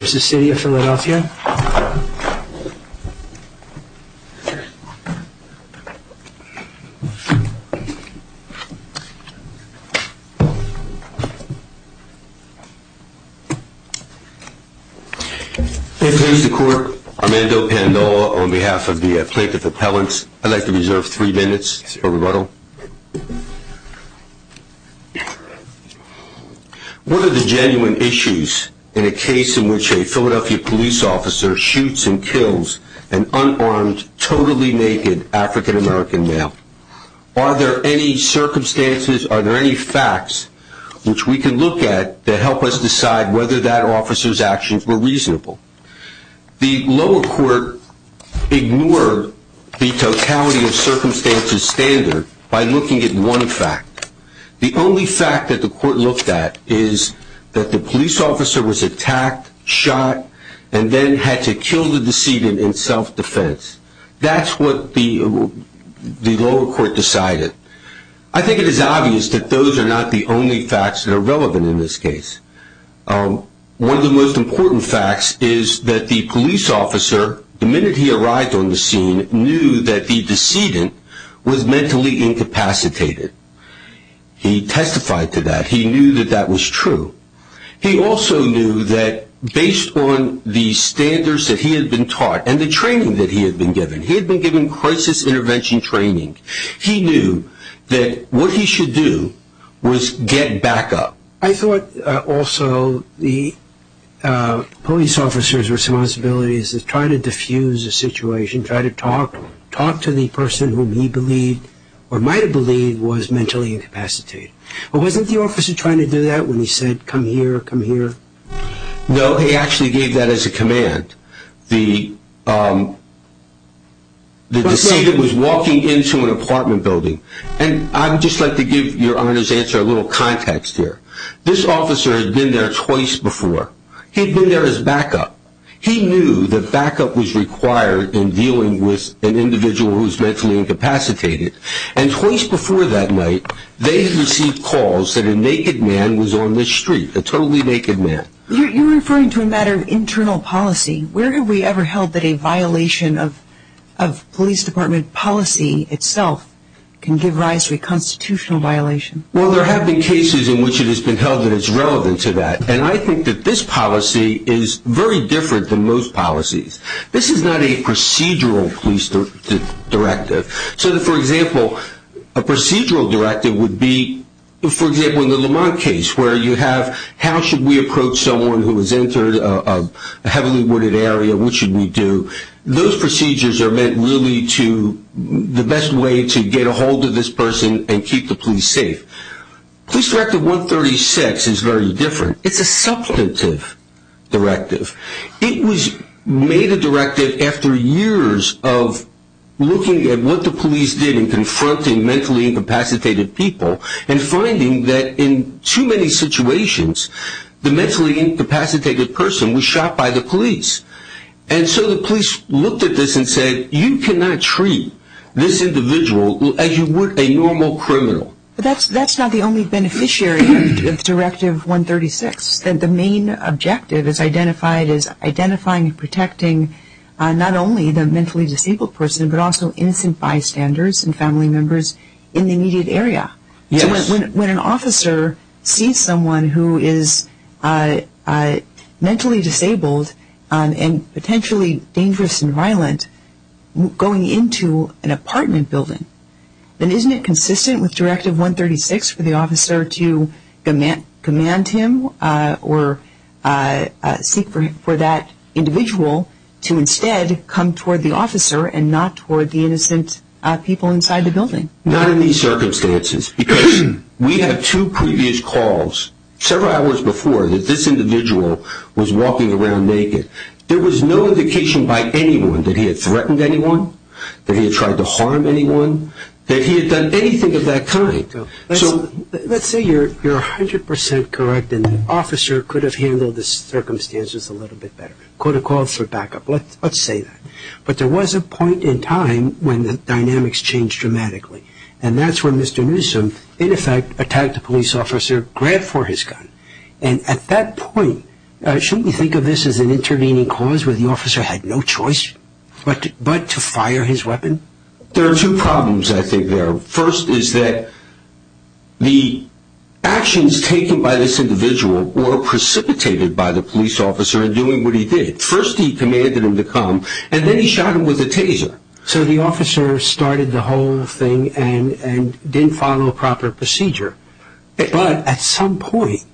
It's the city of Philadelphia. Here's the court. Armando Pandoa on behalf of the plaintiff appellants. I'd like to reserve three minutes for rebuttal. What are the genuine issues in a case in which a Philadelphia police officer shoots and kills an unarmed, totally naked African American male? Are there any circumstances, are there any facts which we can look at to help us decide whether that officer's actions were reasonable? The lower court ignored the totality of circumstances standard by looking at one fact. The only fact that the court looked at is that the police officer was attacked, shot, and then had to kill the decedent in self-defense. That's what the lower court decided. I think it is obvious that those are not the only facts that are relevant in this case. One of the most important facts is that the police officer, the minute he arrived on the scene, knew that the decedent was mentally incapacitated. He testified to that. He knew that that was true. He also knew that based on the standards that he had been taught and the training that he had been given, he had been given crisis intervention training, he knew that what he should do was get back up. I thought also the police officers' responsibility is to try to diffuse the situation, try to talk to the person whom he believed or might have believed was mentally incapacitated. But wasn't the officer trying to do that when he said, come here, come here? No, he actually gave that as a command. The decedent was walking into an apartment building. I would just like to give your Honor's answer a little context here. This officer had been there twice before. He had been there as backup. He knew that backup was required in dealing with an individual who was mentally incapacitated. Twice before that night, they had received calls that a naked man was on the street, a totally naked man. You're referring to a matter of internal policy. Where have we ever held that a violation of police department policy itself can give rise to a constitutional violation? Well, there have been cases in which it has been held that it's relevant to that. And I think that this policy is very different than most policies. This is not a procedural police directive. So, for example, a procedural directive would be, for example, in the Lamont case, where you have how should we approach someone who has entered a heavily wooded area, what should we do? Those procedures are meant really to, the best way to get a hold of this person and keep the police safe. Police Directive 136 is very different. It's a substantive directive. It was made a directive after years of looking at what the police did in confronting mentally incapacitated people and finding that in too many situations, the mentally incapacitated person was shot by the police. And so the police looked at this and said, you cannot treat this individual as you would a normal criminal. But that's not the only beneficiary of Directive 136. The main objective is identifying and protecting not only the mentally disabled person, but also innocent bystanders and family members in the immediate area. So when an officer sees someone who is mentally disabled and potentially dangerous and violent going into an apartment building, then isn't it consistent with Directive 136 for the officer to command him or seek for that individual to instead come toward the officer and not toward the innocent people inside the building? Not in these circumstances. Because we had two previous calls several hours before that this individual was walking around naked. There was no indication by anyone that he had threatened anyone, that he had tried to harm anyone, that he had done anything of that kind. Let's say you're 100% correct and the officer could have handled the circumstances a little bit better. Could have called for backup. Let's say that. But there was a point in time when the dynamics changed dramatically. And that's when Mr. Newsom in effect attacked a police officer, grabbed for his gun. And at that point, shouldn't you think of this as an intervening cause where the officer had no choice but to fire his weapon? There are two problems I think there are. First is that the actions taken by this individual were precipitated by the police officer in doing what he did. First he commanded him to come and then he shot him with a taser. So the officer started the whole thing and didn't follow proper procedure. But at some point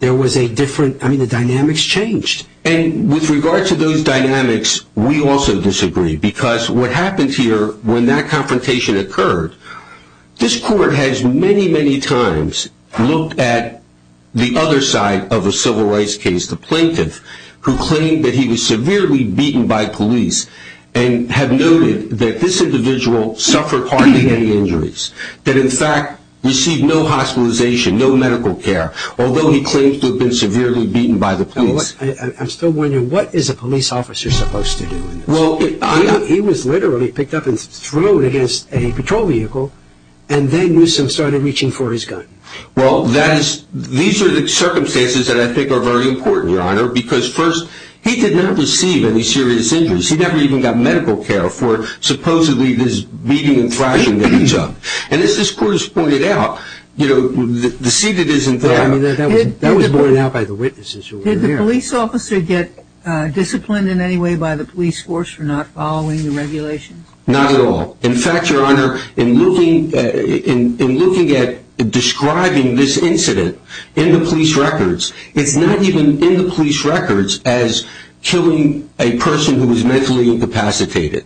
there was a different, I mean the dynamics changed. And with regard to those dynamics, we also disagree because what happened here when that confrontation occurred, this court has many, many times looked at the other side of a civil rights case, the plaintiff, who claimed that he was severely beaten by police and have noted that this individual suffered hardly any injuries. That in fact received no hospitalization, no medical care. Although he claims to have been severely beaten by the police. I'm still wondering what is a police officer supposed to do? He was literally picked up and thrown against a patrol vehicle and then Newsom started reaching for his gun. Well, these are the circumstances that I think are very important, Your Honor. Because first, he did not receive any serious injuries. He never even got medical care for supposedly this beating and thrashing that he took. And as this court has pointed out, you know, the seated isn't there. That was pointed out by the witnesses who were there. Did the police officer get disciplined in any way by the police force for not following the regulations? Not at all. In fact, Your Honor, in looking at describing this incident in the police records, it's not even in the police records as killing a person who is mentally incapacitated.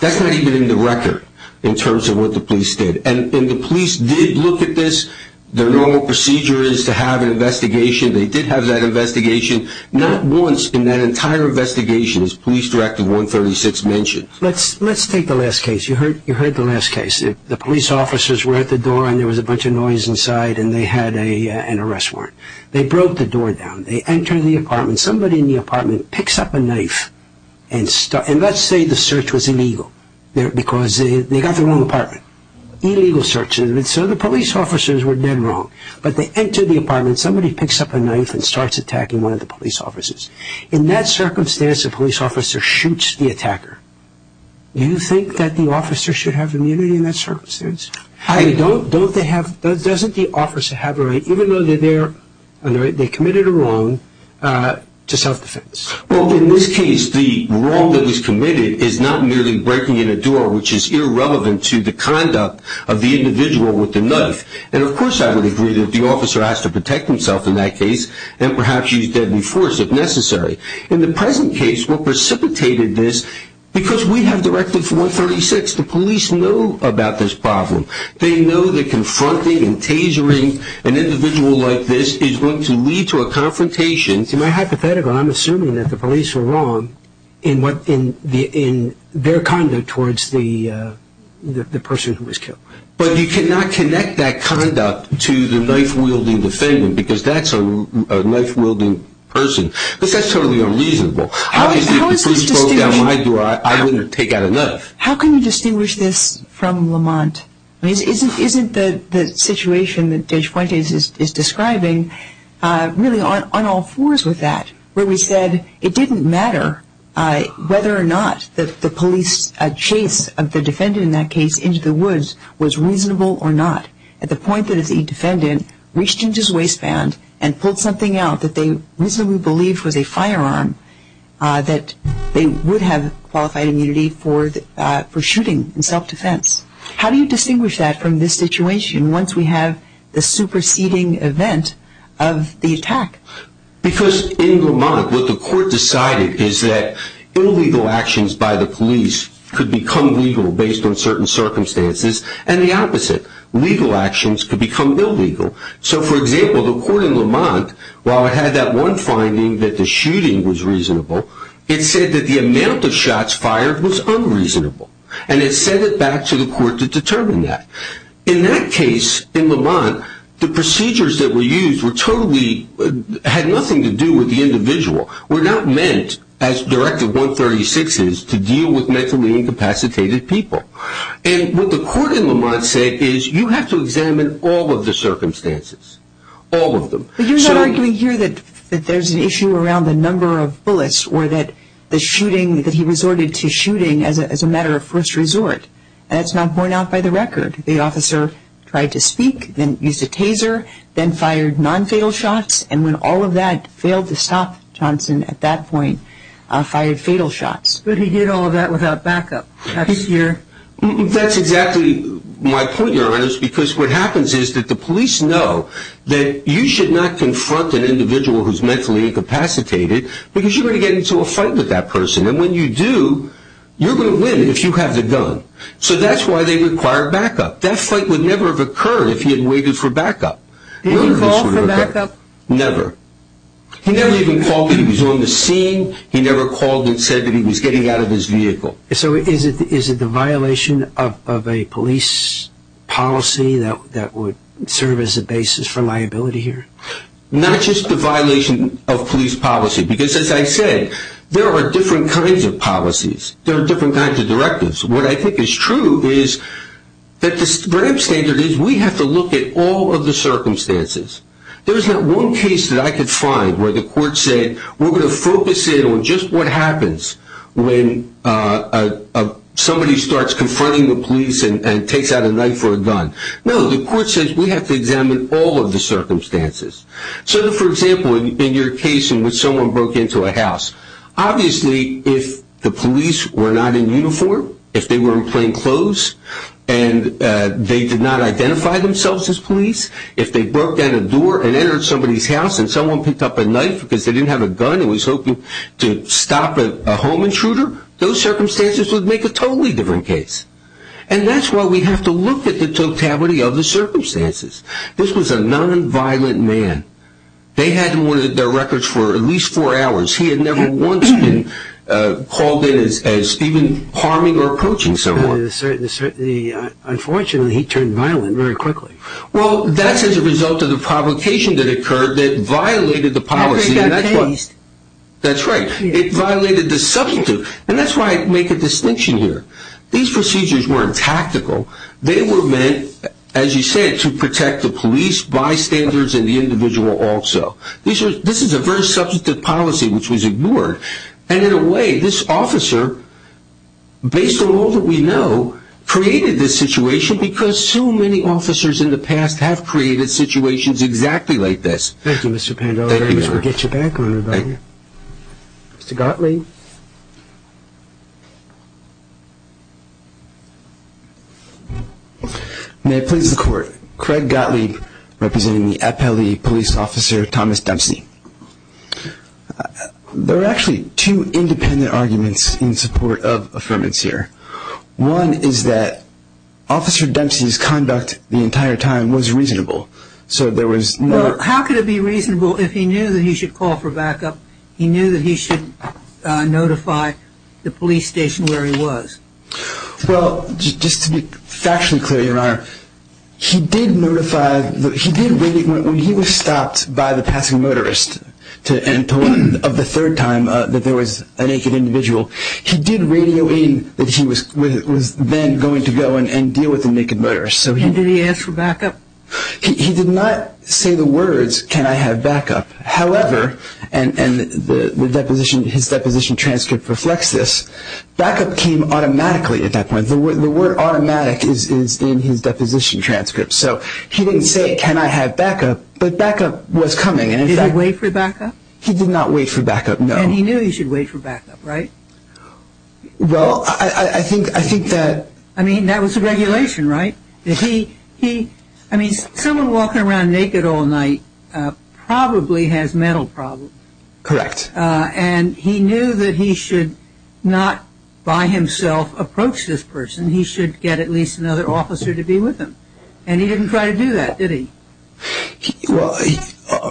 That's not even in the record in terms of what the police did. And the police did look at this. Their normal procedure is to have an investigation. They did have that investigation. Not once in that entire investigation is Police Director 136 mentioned. Let's take the last case. You heard the last case. The police officers were at the door and there was a bunch of noise inside and they had an arrest warrant. They broke the door down. They entered the apartment. Somebody in the apartment picks up a knife and starts. And let's say the search was illegal because they got the wrong apartment. Illegal search. And so the police officers were dead wrong. But they enter the apartment. Somebody picks up a knife and starts attacking one of the police officers. In that circumstance, a police officer shoots the attacker. Do you think that the officer should have immunity in that circumstance? Doesn't the officer have a right, even though they committed a wrong, to self-defense? Well, in this case, the wrong that was committed is not merely breaking in a door, which is irrelevant to the conduct of the individual with the knife. And, of course, I would agree that the officer has to protect himself in that case and perhaps use deadly force if necessary. In the present case, what precipitated this, because we have directed for 136, is the police know about this problem. They know that confronting and tasering an individual like this is going to lead to a confrontation. In my hypothetical, I'm assuming that the police were wrong in their conduct towards the person who was killed. But you cannot connect that conduct to the knife-wielding defendant because that's a knife-wielding person because that's totally unreasonable. Obviously, if the police broke down my door, I wouldn't take out a knife. How can you distinguish this from Lamont? Isn't the situation that Judge Fuentes is describing really on all fours with that, where we said it didn't matter whether or not the police chase of the defendant in that case into the woods was reasonable or not, at the point that the defendant reached into his waistband and pulled something out that they reasonably believed was a firearm, that they would have qualified immunity for shooting in self-defense? How do you distinguish that from this situation once we have the superseding event of the attack? Because in Lamont, what the court decided is that illegal actions by the police could become legal based on certain circumstances, and the opposite. Legal actions could become illegal. So, for example, the court in Lamont, while it had that one finding that the shooting was reasonable, it said that the amount of shots fired was unreasonable, and it sent it back to the court to determine that. In that case in Lamont, the procedures that were used had nothing to do with the individual, were not meant, as Directive 136 is, to deal with mentally incapacitated people. And what the court in Lamont said is you have to examine all of the circumstances, all of them. But you're not arguing here that there's an issue around the number of bullets or that the shooting, that he resorted to shooting as a matter of first resort. That's not borne out by the record. The officer tried to speak, then used a taser, then fired non-fatal shots, and when all of that failed to stop Johnson at that point, fired fatal shots. But he did all of that without backup. That's your... That's exactly my point, Your Honor, because what happens is that the police know that you should not confront an individual who's mentally incapacitated because you're going to get into a fight with that person. And when you do, you're going to win if you have the gun. So that's why they require backup. That fight would never have occurred if he had waited for backup. Did he call for backup? Never. He never even called when he was on the scene. He never called and said that he was getting out of his vehicle. So is it the violation of a police policy that would serve as a basis for liability here? Not just the violation of police policy because, as I said, there are different kinds of policies. There are different kinds of directives. What I think is true is that the Graham Standard is we have to look at all of the circumstances. There's not one case that I could find where the court said, we're going to focus in on just what happens when somebody starts confronting the police and takes out a knife or a gun. No, the court says we have to examine all of the circumstances. So, for example, in your case in which someone broke into a house, obviously if the police were not in uniform, if they were in plain clothes and they did not identify themselves as police, if they broke down a door and entered somebody's house and someone picked up a knife because they didn't have a gun and was hoping to stop a home intruder, those circumstances would make a totally different case. And that's why we have to look at the totality of the circumstances. This was a nonviolent man. They had him on their records for at least four hours. He had never once been called in as even harming or approaching someone. Unfortunately, he turned violent very quickly. Well, that's as a result of the provocation that occurred that violated the policy. That's right. It violated the substantive. And that's why I make a distinction here. These procedures weren't tactical. They were meant, as you said, to protect the police, bystanders, and the individual also. This is a very substantive policy which was ignored. And in a way, this officer, based on all that we know, created this situation because so many officers in the past have created situations exactly like this. Thank you, Mr. Pandola. Thank you, sir. We'll get you back on, everybody. Mr. Gottlieb. May it please the Court, I'm Craig Gottlieb, representing the FLE police officer, Thomas Dempsey. There are actually two independent arguments in support of affirmance here. One is that Officer Dempsey's conduct the entire time was reasonable. How could it be reasonable if he knew that he should call for backup, he knew that he should notify the police station where he was? Well, just to be factually clear, Your Honor, he did notify, he did radio when he was stopped by the passing motorist and told him of the third time that there was a naked individual, he did radio in that he was then going to go and deal with the naked motorist. And did he ask for backup? He did not say the words, can I have backup? However, and his deposition transcript reflects this, backup came automatically at that point. The word automatic is in his deposition transcript. So he didn't say, can I have backup? But backup was coming. Did he wait for backup? He did not wait for backup, no. And he knew he should wait for backup, right? Well, I think that... I mean, that was the regulation, right? I mean, someone walking around naked all night probably has mental problems. Correct. And he knew that he should not by himself approach this person. He should get at least another officer to be with him. And he didn't try to do that, did he? Well,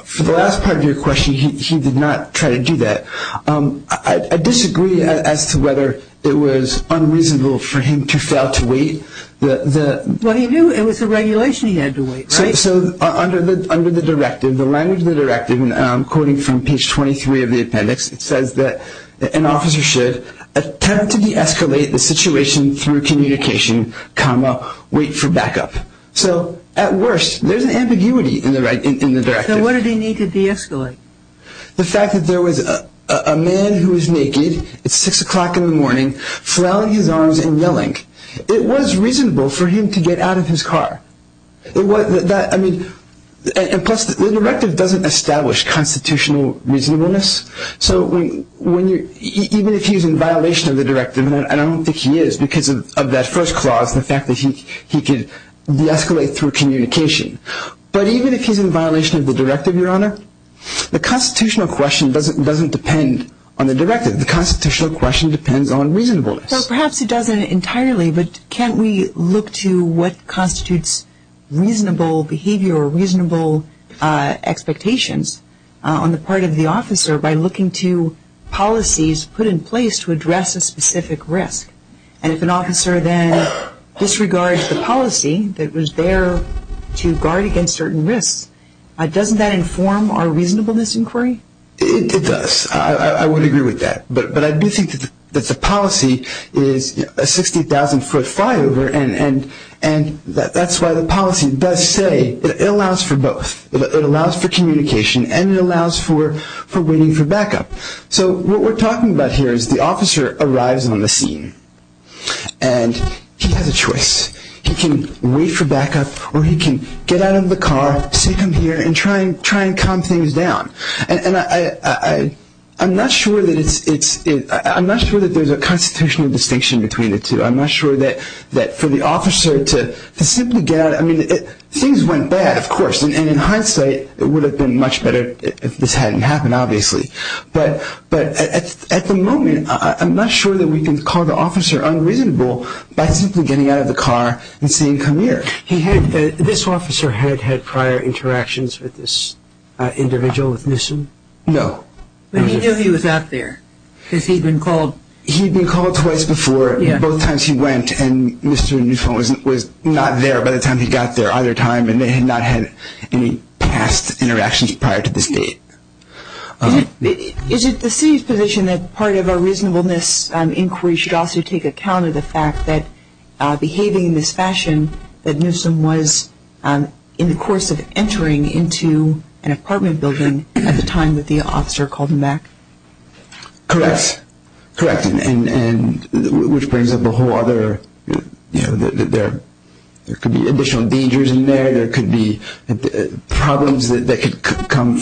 for the last part of your question, he did not try to do that. I disagree as to whether it was unreasonable for him to fail to wait. Well, he knew it was the regulation he had to wait, right? So under the directive, the language of the directive, and I'm quoting from page 23 of the appendix, it says that an officer should attempt to de-escalate the situation through communication, comma, wait for backup. So at worst, there's an ambiguity in the directive. So what did he need to de-escalate? The fact that there was a man who was naked at 6 o'clock in the morning, flailing his arms and yelling. It was reasonable for him to get out of his car. And plus, the directive doesn't establish constitutional reasonableness. So even if he's in violation of the directive, and I don't think he is because of that first clause, the fact that he could de-escalate through communication. But even if he's in violation of the directive, Your Honor, the constitutional question doesn't depend on the directive. The constitutional question depends on reasonableness. So perhaps it doesn't entirely, but can't we look to what constitutes reasonable behavior or reasonable expectations on the part of the officer by looking to policies put in place to address a specific risk? And if an officer then disregards the policy that was there to guard against certain risks, doesn't that inform our reasonableness inquiry? It does. I would agree with that. But I do think that the policy is a 60,000-foot flyover, and that's why the policy does say it allows for both. It allows for communication, and it allows for waiting for backup. So what we're talking about here is the officer arrives on the scene, and he has a choice. He can wait for backup, or he can get out of the car, sit down here, and try and calm things down. And I'm not sure that there's a constitutional distinction between the two. I'm not sure that for the officer to simply get out of the car. I mean, things went bad, of course, and in hindsight it would have been much better if this hadn't happened, obviously. But at the moment, I'm not sure that we can call the officer unreasonable by simply getting out of the car and saying, come here. This officer had had prior interactions with this individual, with Nissen? No. But he knew he was out there because he'd been called. He'd been called twice before. Both times he went, and Mr. Nissen was not there by the time he got there either time, and they had not had any past interactions prior to this date. Is it the city's position that part of a reasonableness inquiry should also take account of the fact that Nissen was behaving in this fashion that Nissen was in the course of entering into an apartment building at the time that the officer called him back? Correct. Correct. And which brings up a whole other, you know, there could be additional dangers in there. There could be problems that could come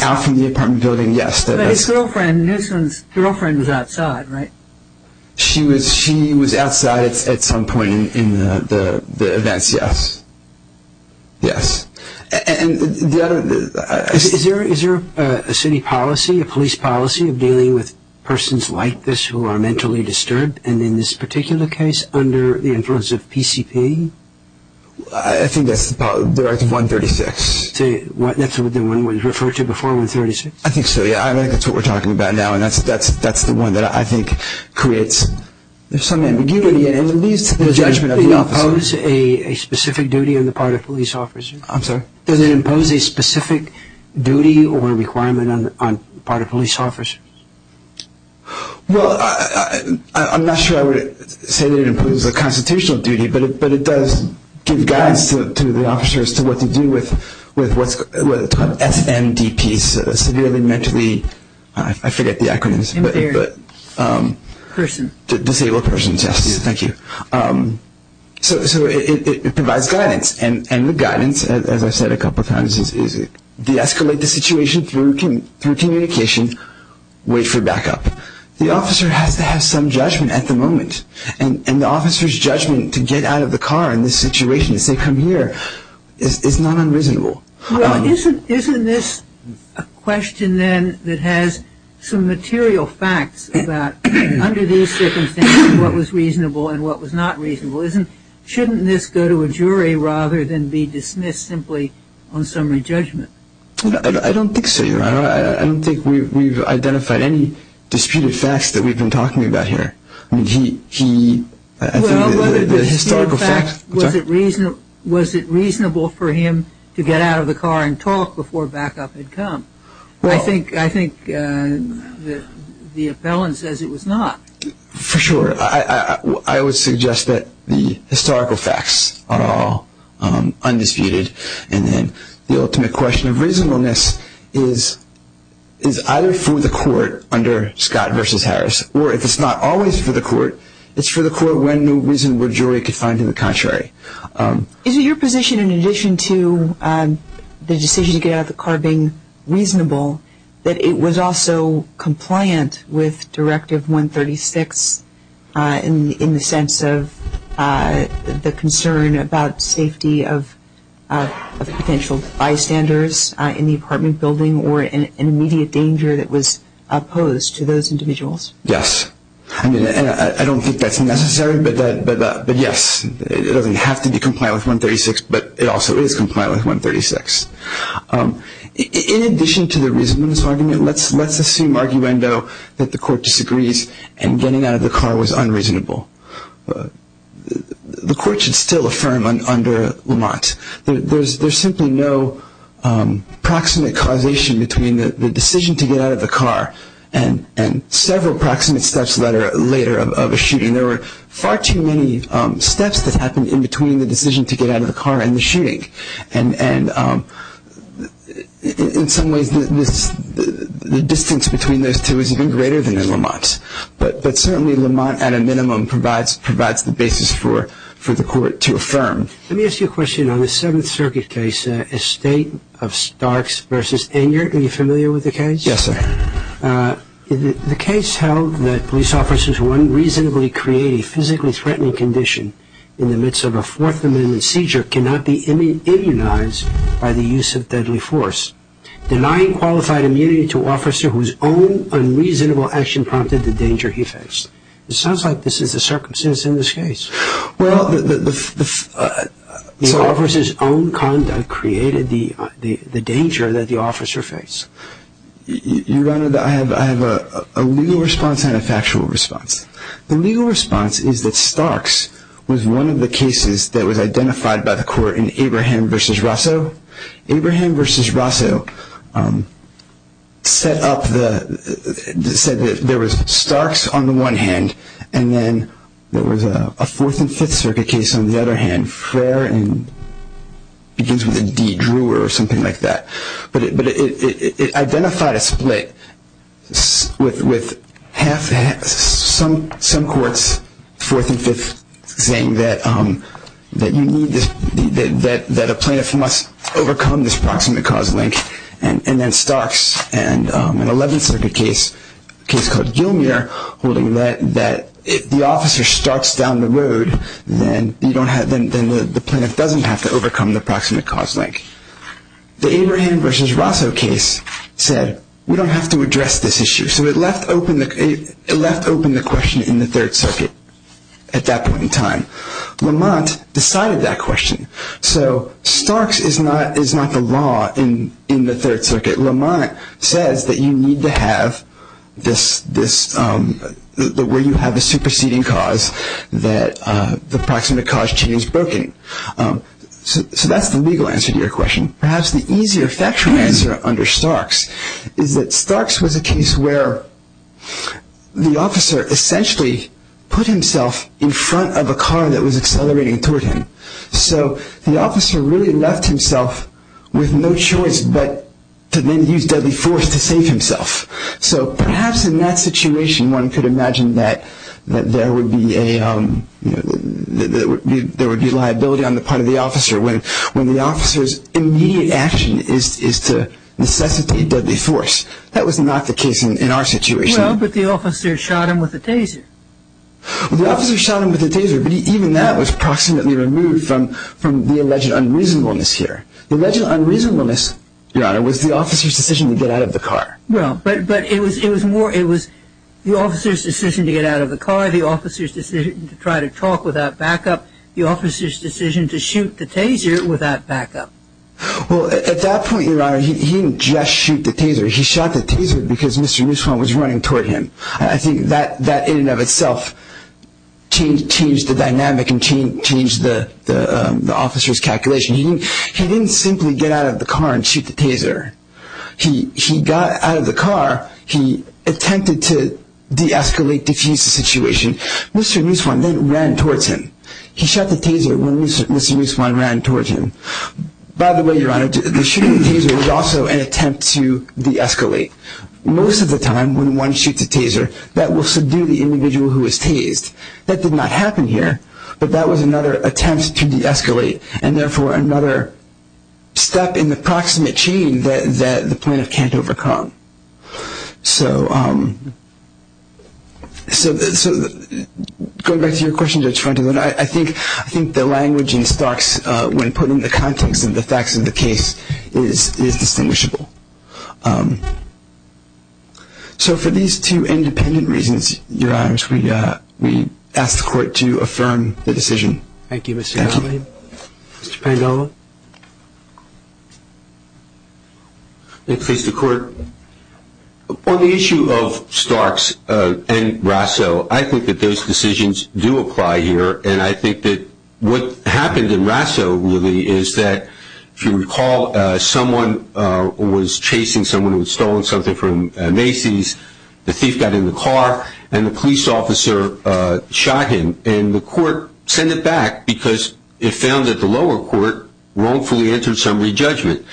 out from the apartment building, yes. But his girlfriend, Nissen's girlfriend was outside, right? She was outside at some point in the events, yes. Yes. Is there a city policy, a police policy of dealing with persons like this who are mentally disturbed, and in this particular case under the influence of PCP? I think that's the directive 136. That's what the one was referred to before 136? I think so, yeah. I think that's what we're talking about now, and that's the one that I think creates some ambiguity and leads to the judgment of the officer. Does it impose a specific duty on the part of police officers? I'm sorry? Does it impose a specific duty or requirement on the part of police officers? Well, I'm not sure I would say that it imposes a constitutional duty, but it does give guidance to the officers to what to do with SMDPs, severely mentally, I forget the acronym. Inferior person. Disabled persons, yes. Thank you. So it provides guidance, and the guidance, as I said a couple times, is deescalate the situation through communication, wait for backup. The officer has to have some judgment at the moment, and the officer's judgment to get out of the car in this situation, say, come here, is not unreasonable. Well, isn't this a question then that has some material facts about under these circumstances what was reasonable and what was not reasonable? Shouldn't this go to a jury rather than be dismissed simply on summary judgment? I don't think so, Your Honor. I don't think we've identified any disputed facts that we've been talking about here. Well, was it reasonable for him to get out of the car and talk before backup had come? I think the appellant says it was not. For sure. I would suggest that the historical facts are all undisputed, and then the ultimate question of reasonableness is either through the court under Scott v. Harris, or if it's not always for the court, it's for the court when the reasonable jury can find in the contrary. Is it your position, in addition to the decision to get out of the car being reasonable, that it was also compliant with Directive 136 in the sense of the concern about safety of potential bystanders in the apartment building or an immediate danger that was posed to those individuals? Yes. I mean, I don't think that's necessary, but yes, it doesn't have to be compliant with 136, but it also is compliant with 136. In addition to the reasonableness argument, let's assume arguendo that the court disagrees and getting out of the car was unreasonable. The court should still affirm under Lamont. There's simply no proximate causation between the decision to get out of the car and several proximate steps later of a shooting. There were far too many steps that happened in between the decision to get out of the car and the shooting, and in some ways the distance between those two is even greater than in Lamont. But certainly Lamont, at a minimum, provides the basis for the court to affirm. Let me ask you a question. On the Seventh Circuit case, Estate of Starks v. Enyart, are you familiar with the case? Yes, sir. The case held that police officers who unreasonably create a physically threatening condition in the midst of a fourth-amendment seizure cannot be immunized by the use of deadly force, denying qualified immunity to an officer whose own unreasonable action prompted the danger he faced. It sounds like this is the circumstance in this case. Well, the officer's own conduct created the danger that the officer faced. Your Honor, I have a legal response and a factual response. The legal response is that Starks was one of the cases that was identified by the court in Abraham v. Rosso. Abraham v. Rosso said that there was Starks on the one hand, and then there was a Fourth and Fifth Circuit case on the other hand. Frayer begins with a D, Drew or something like that. But it identified a split with some courts, Fourth and Fifth, saying that a plaintiff must overcome this proximate cause link, and then Starks and an Eleventh Circuit case, a case called Gilmere, holding that if the officer starts down the road, then the plaintiff doesn't have to overcome the proximate cause link. The Abraham v. Rosso case said, we don't have to address this issue. So it left open the question in the Third Circuit at that point in time. Lamont decided that question. So Starks is not the law in the Third Circuit. Lamont says that you need to have this, where you have a superseding cause that the proximate cause chain is broken. So that's the legal answer to your question. Perhaps the easier factual answer under Starks is that Starks was a case where the officer essentially put himself in front of a car that was accelerating toward him. So the officer really left himself with no choice but to then use deadly force to save himself. So perhaps in that situation one could imagine that there would be liability on the part of the officer when the officer's immediate action is to necessitate deadly force. That was not the case in our situation. Well, but the officer shot him with a taser. Well, the officer shot him with a taser, but even that was proximately removed from the alleged unreasonableness here. The alleged unreasonableness, Your Honor, was the officer's decision to get out of the car. Well, but it was the officer's decision to get out of the car, the officer's decision to try to talk without backup, the officer's decision to shoot the taser without backup. Well, at that point, Your Honor, he didn't just shoot the taser. He shot the taser because Mr. Nussbaum was running toward him. I think that in and of itself changed the dynamic and changed the officer's calculation. He didn't simply get out of the car and shoot the taser. He got out of the car. He attempted to de-escalate, defuse the situation. Mr. Nussbaum then ran towards him. He shot the taser when Mr. Nussbaum ran towards him. By the way, Your Honor, the shooting of the taser was also an attempt to de-escalate. Most of the time when one shoots a taser, that will subdue the individual who is tased. That did not happen here, but that was another attempt to de-escalate and therefore another step in the proximate chain that the plaintiff can't overcome. So going back to your question, Judge Frontenot, I think the language in Starks when put in the context of the facts of the case is distinguishable. So for these two independent reasons, Your Honor, we ask the Court to affirm the decision. Thank you, Mr. Allen. Thank you. Mr. Pandola? Please, the Court. On the issue of Starks and Rasso, I think that those decisions do apply here, and I think that what happened in Rasso really is that, if you recall, someone was chasing someone who had stolen something from Macy's. The thief got in the car, and the police officer shot him, and the Court sent it back because it found that the lower court, wrongfully entered some re-judgment.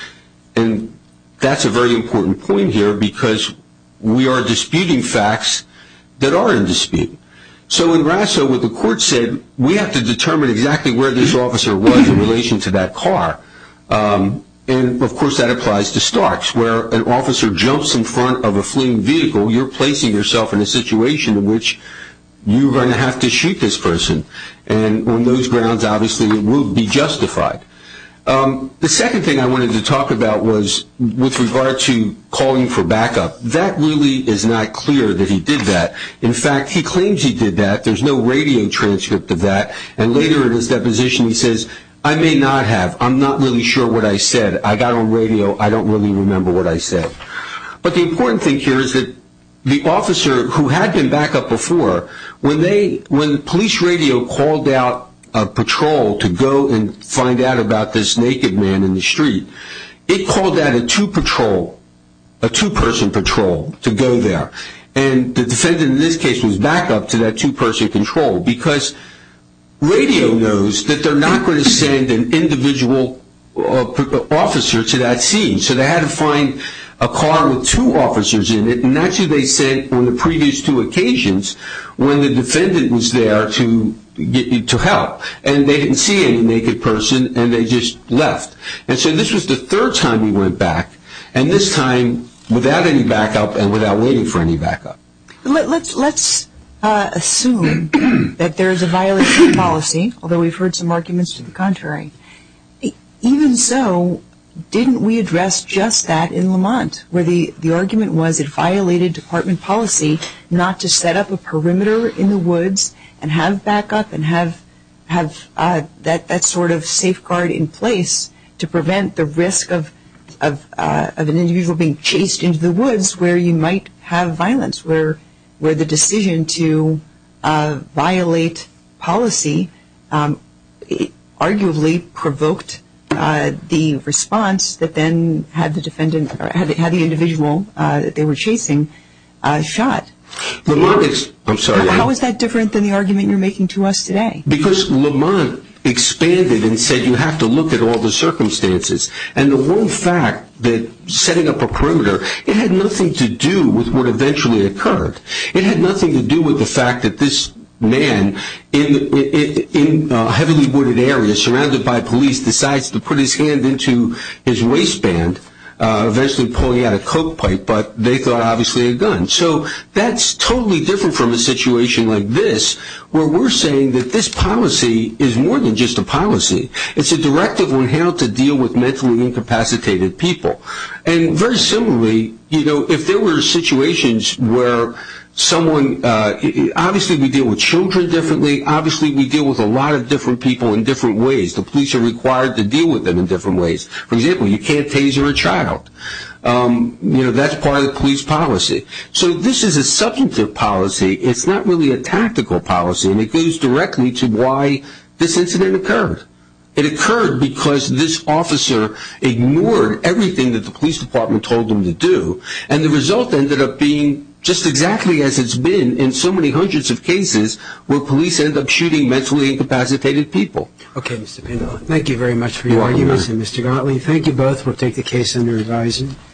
And that's a very important point here because we are disputing facts that are in dispute. So in Rasso, what the Court said, we have to determine exactly where this officer was in relation to that car, and, of course, that applies to Starks. Where an officer jumps in front of a fleeing vehicle, you're placing yourself in a situation in which you're going to have to shoot this person, and on those grounds, obviously, it will be justified. The second thing I wanted to talk about was with regard to calling for backup. That really is not clear that he did that. In fact, he claims he did that. There's no radio transcript of that. And later in his deposition, he says, I may not have. I'm not really sure what I said. I got on radio. I don't really remember what I said. But the important thing here is that the officer who had been backup before, when police radio called out a patrol to go and find out about this naked man in the street, it called out a two-patrol, a two-person patrol to go there. And the defendant in this case was backup to that two-person patrol because radio knows that they're not going to send an individual officer to that scene. So they had to find a car with two officers in it, and that's who they sent on the previous two occasions when the defendant was there to help. And they didn't see any naked person, and they just left. And so this was the third time he went back, and this time without any backup and without waiting for any backup. Let's assume that there is a violation of policy, although we've heard some arguments to the contrary. Even so, didn't we address just that in Lamont, where the argument was it violated department policy not to set up a perimeter in the woods and have backup and have that sort of safeguard in place to prevent the risk of an individual being chased into the woods where you might have violence, where the decision to violate policy arguably provoked the response that then had the individual that they were chasing shot? I'm sorry. How is that different than the argument you're making to us today? Because Lamont expanded and said you have to look at all the circumstances. And the one fact that setting up a perimeter, it had nothing to do with what eventually occurred. It had nothing to do with the fact that this man in a heavily wooded area surrounded by police decides to put his hand into his waistband, eventually pulling out a coke pipe, but they thought obviously a gun. So that's totally different from a situation like this, where we're saying that this policy is more than just a policy. It's a directive on how to deal with mentally incapacitated people. And very similarly, if there were situations where someone, obviously we deal with children differently, obviously we deal with a lot of different people in different ways. The police are required to deal with them in different ways. For example, you can't tase your child. That's part of the police policy. So this is a substantive policy. It's not really a tactical policy, and it goes directly to why this incident occurred. It occurred because this officer ignored everything that the police department told him to do, and the result ended up being just exactly as it's been in so many hundreds of cases where police end up shooting mentally incapacitated people. Okay, Mr. Pendleton. Thank you very much for your arguments, and Mr. Gottlieb, thank you both. We'll take the case under revising.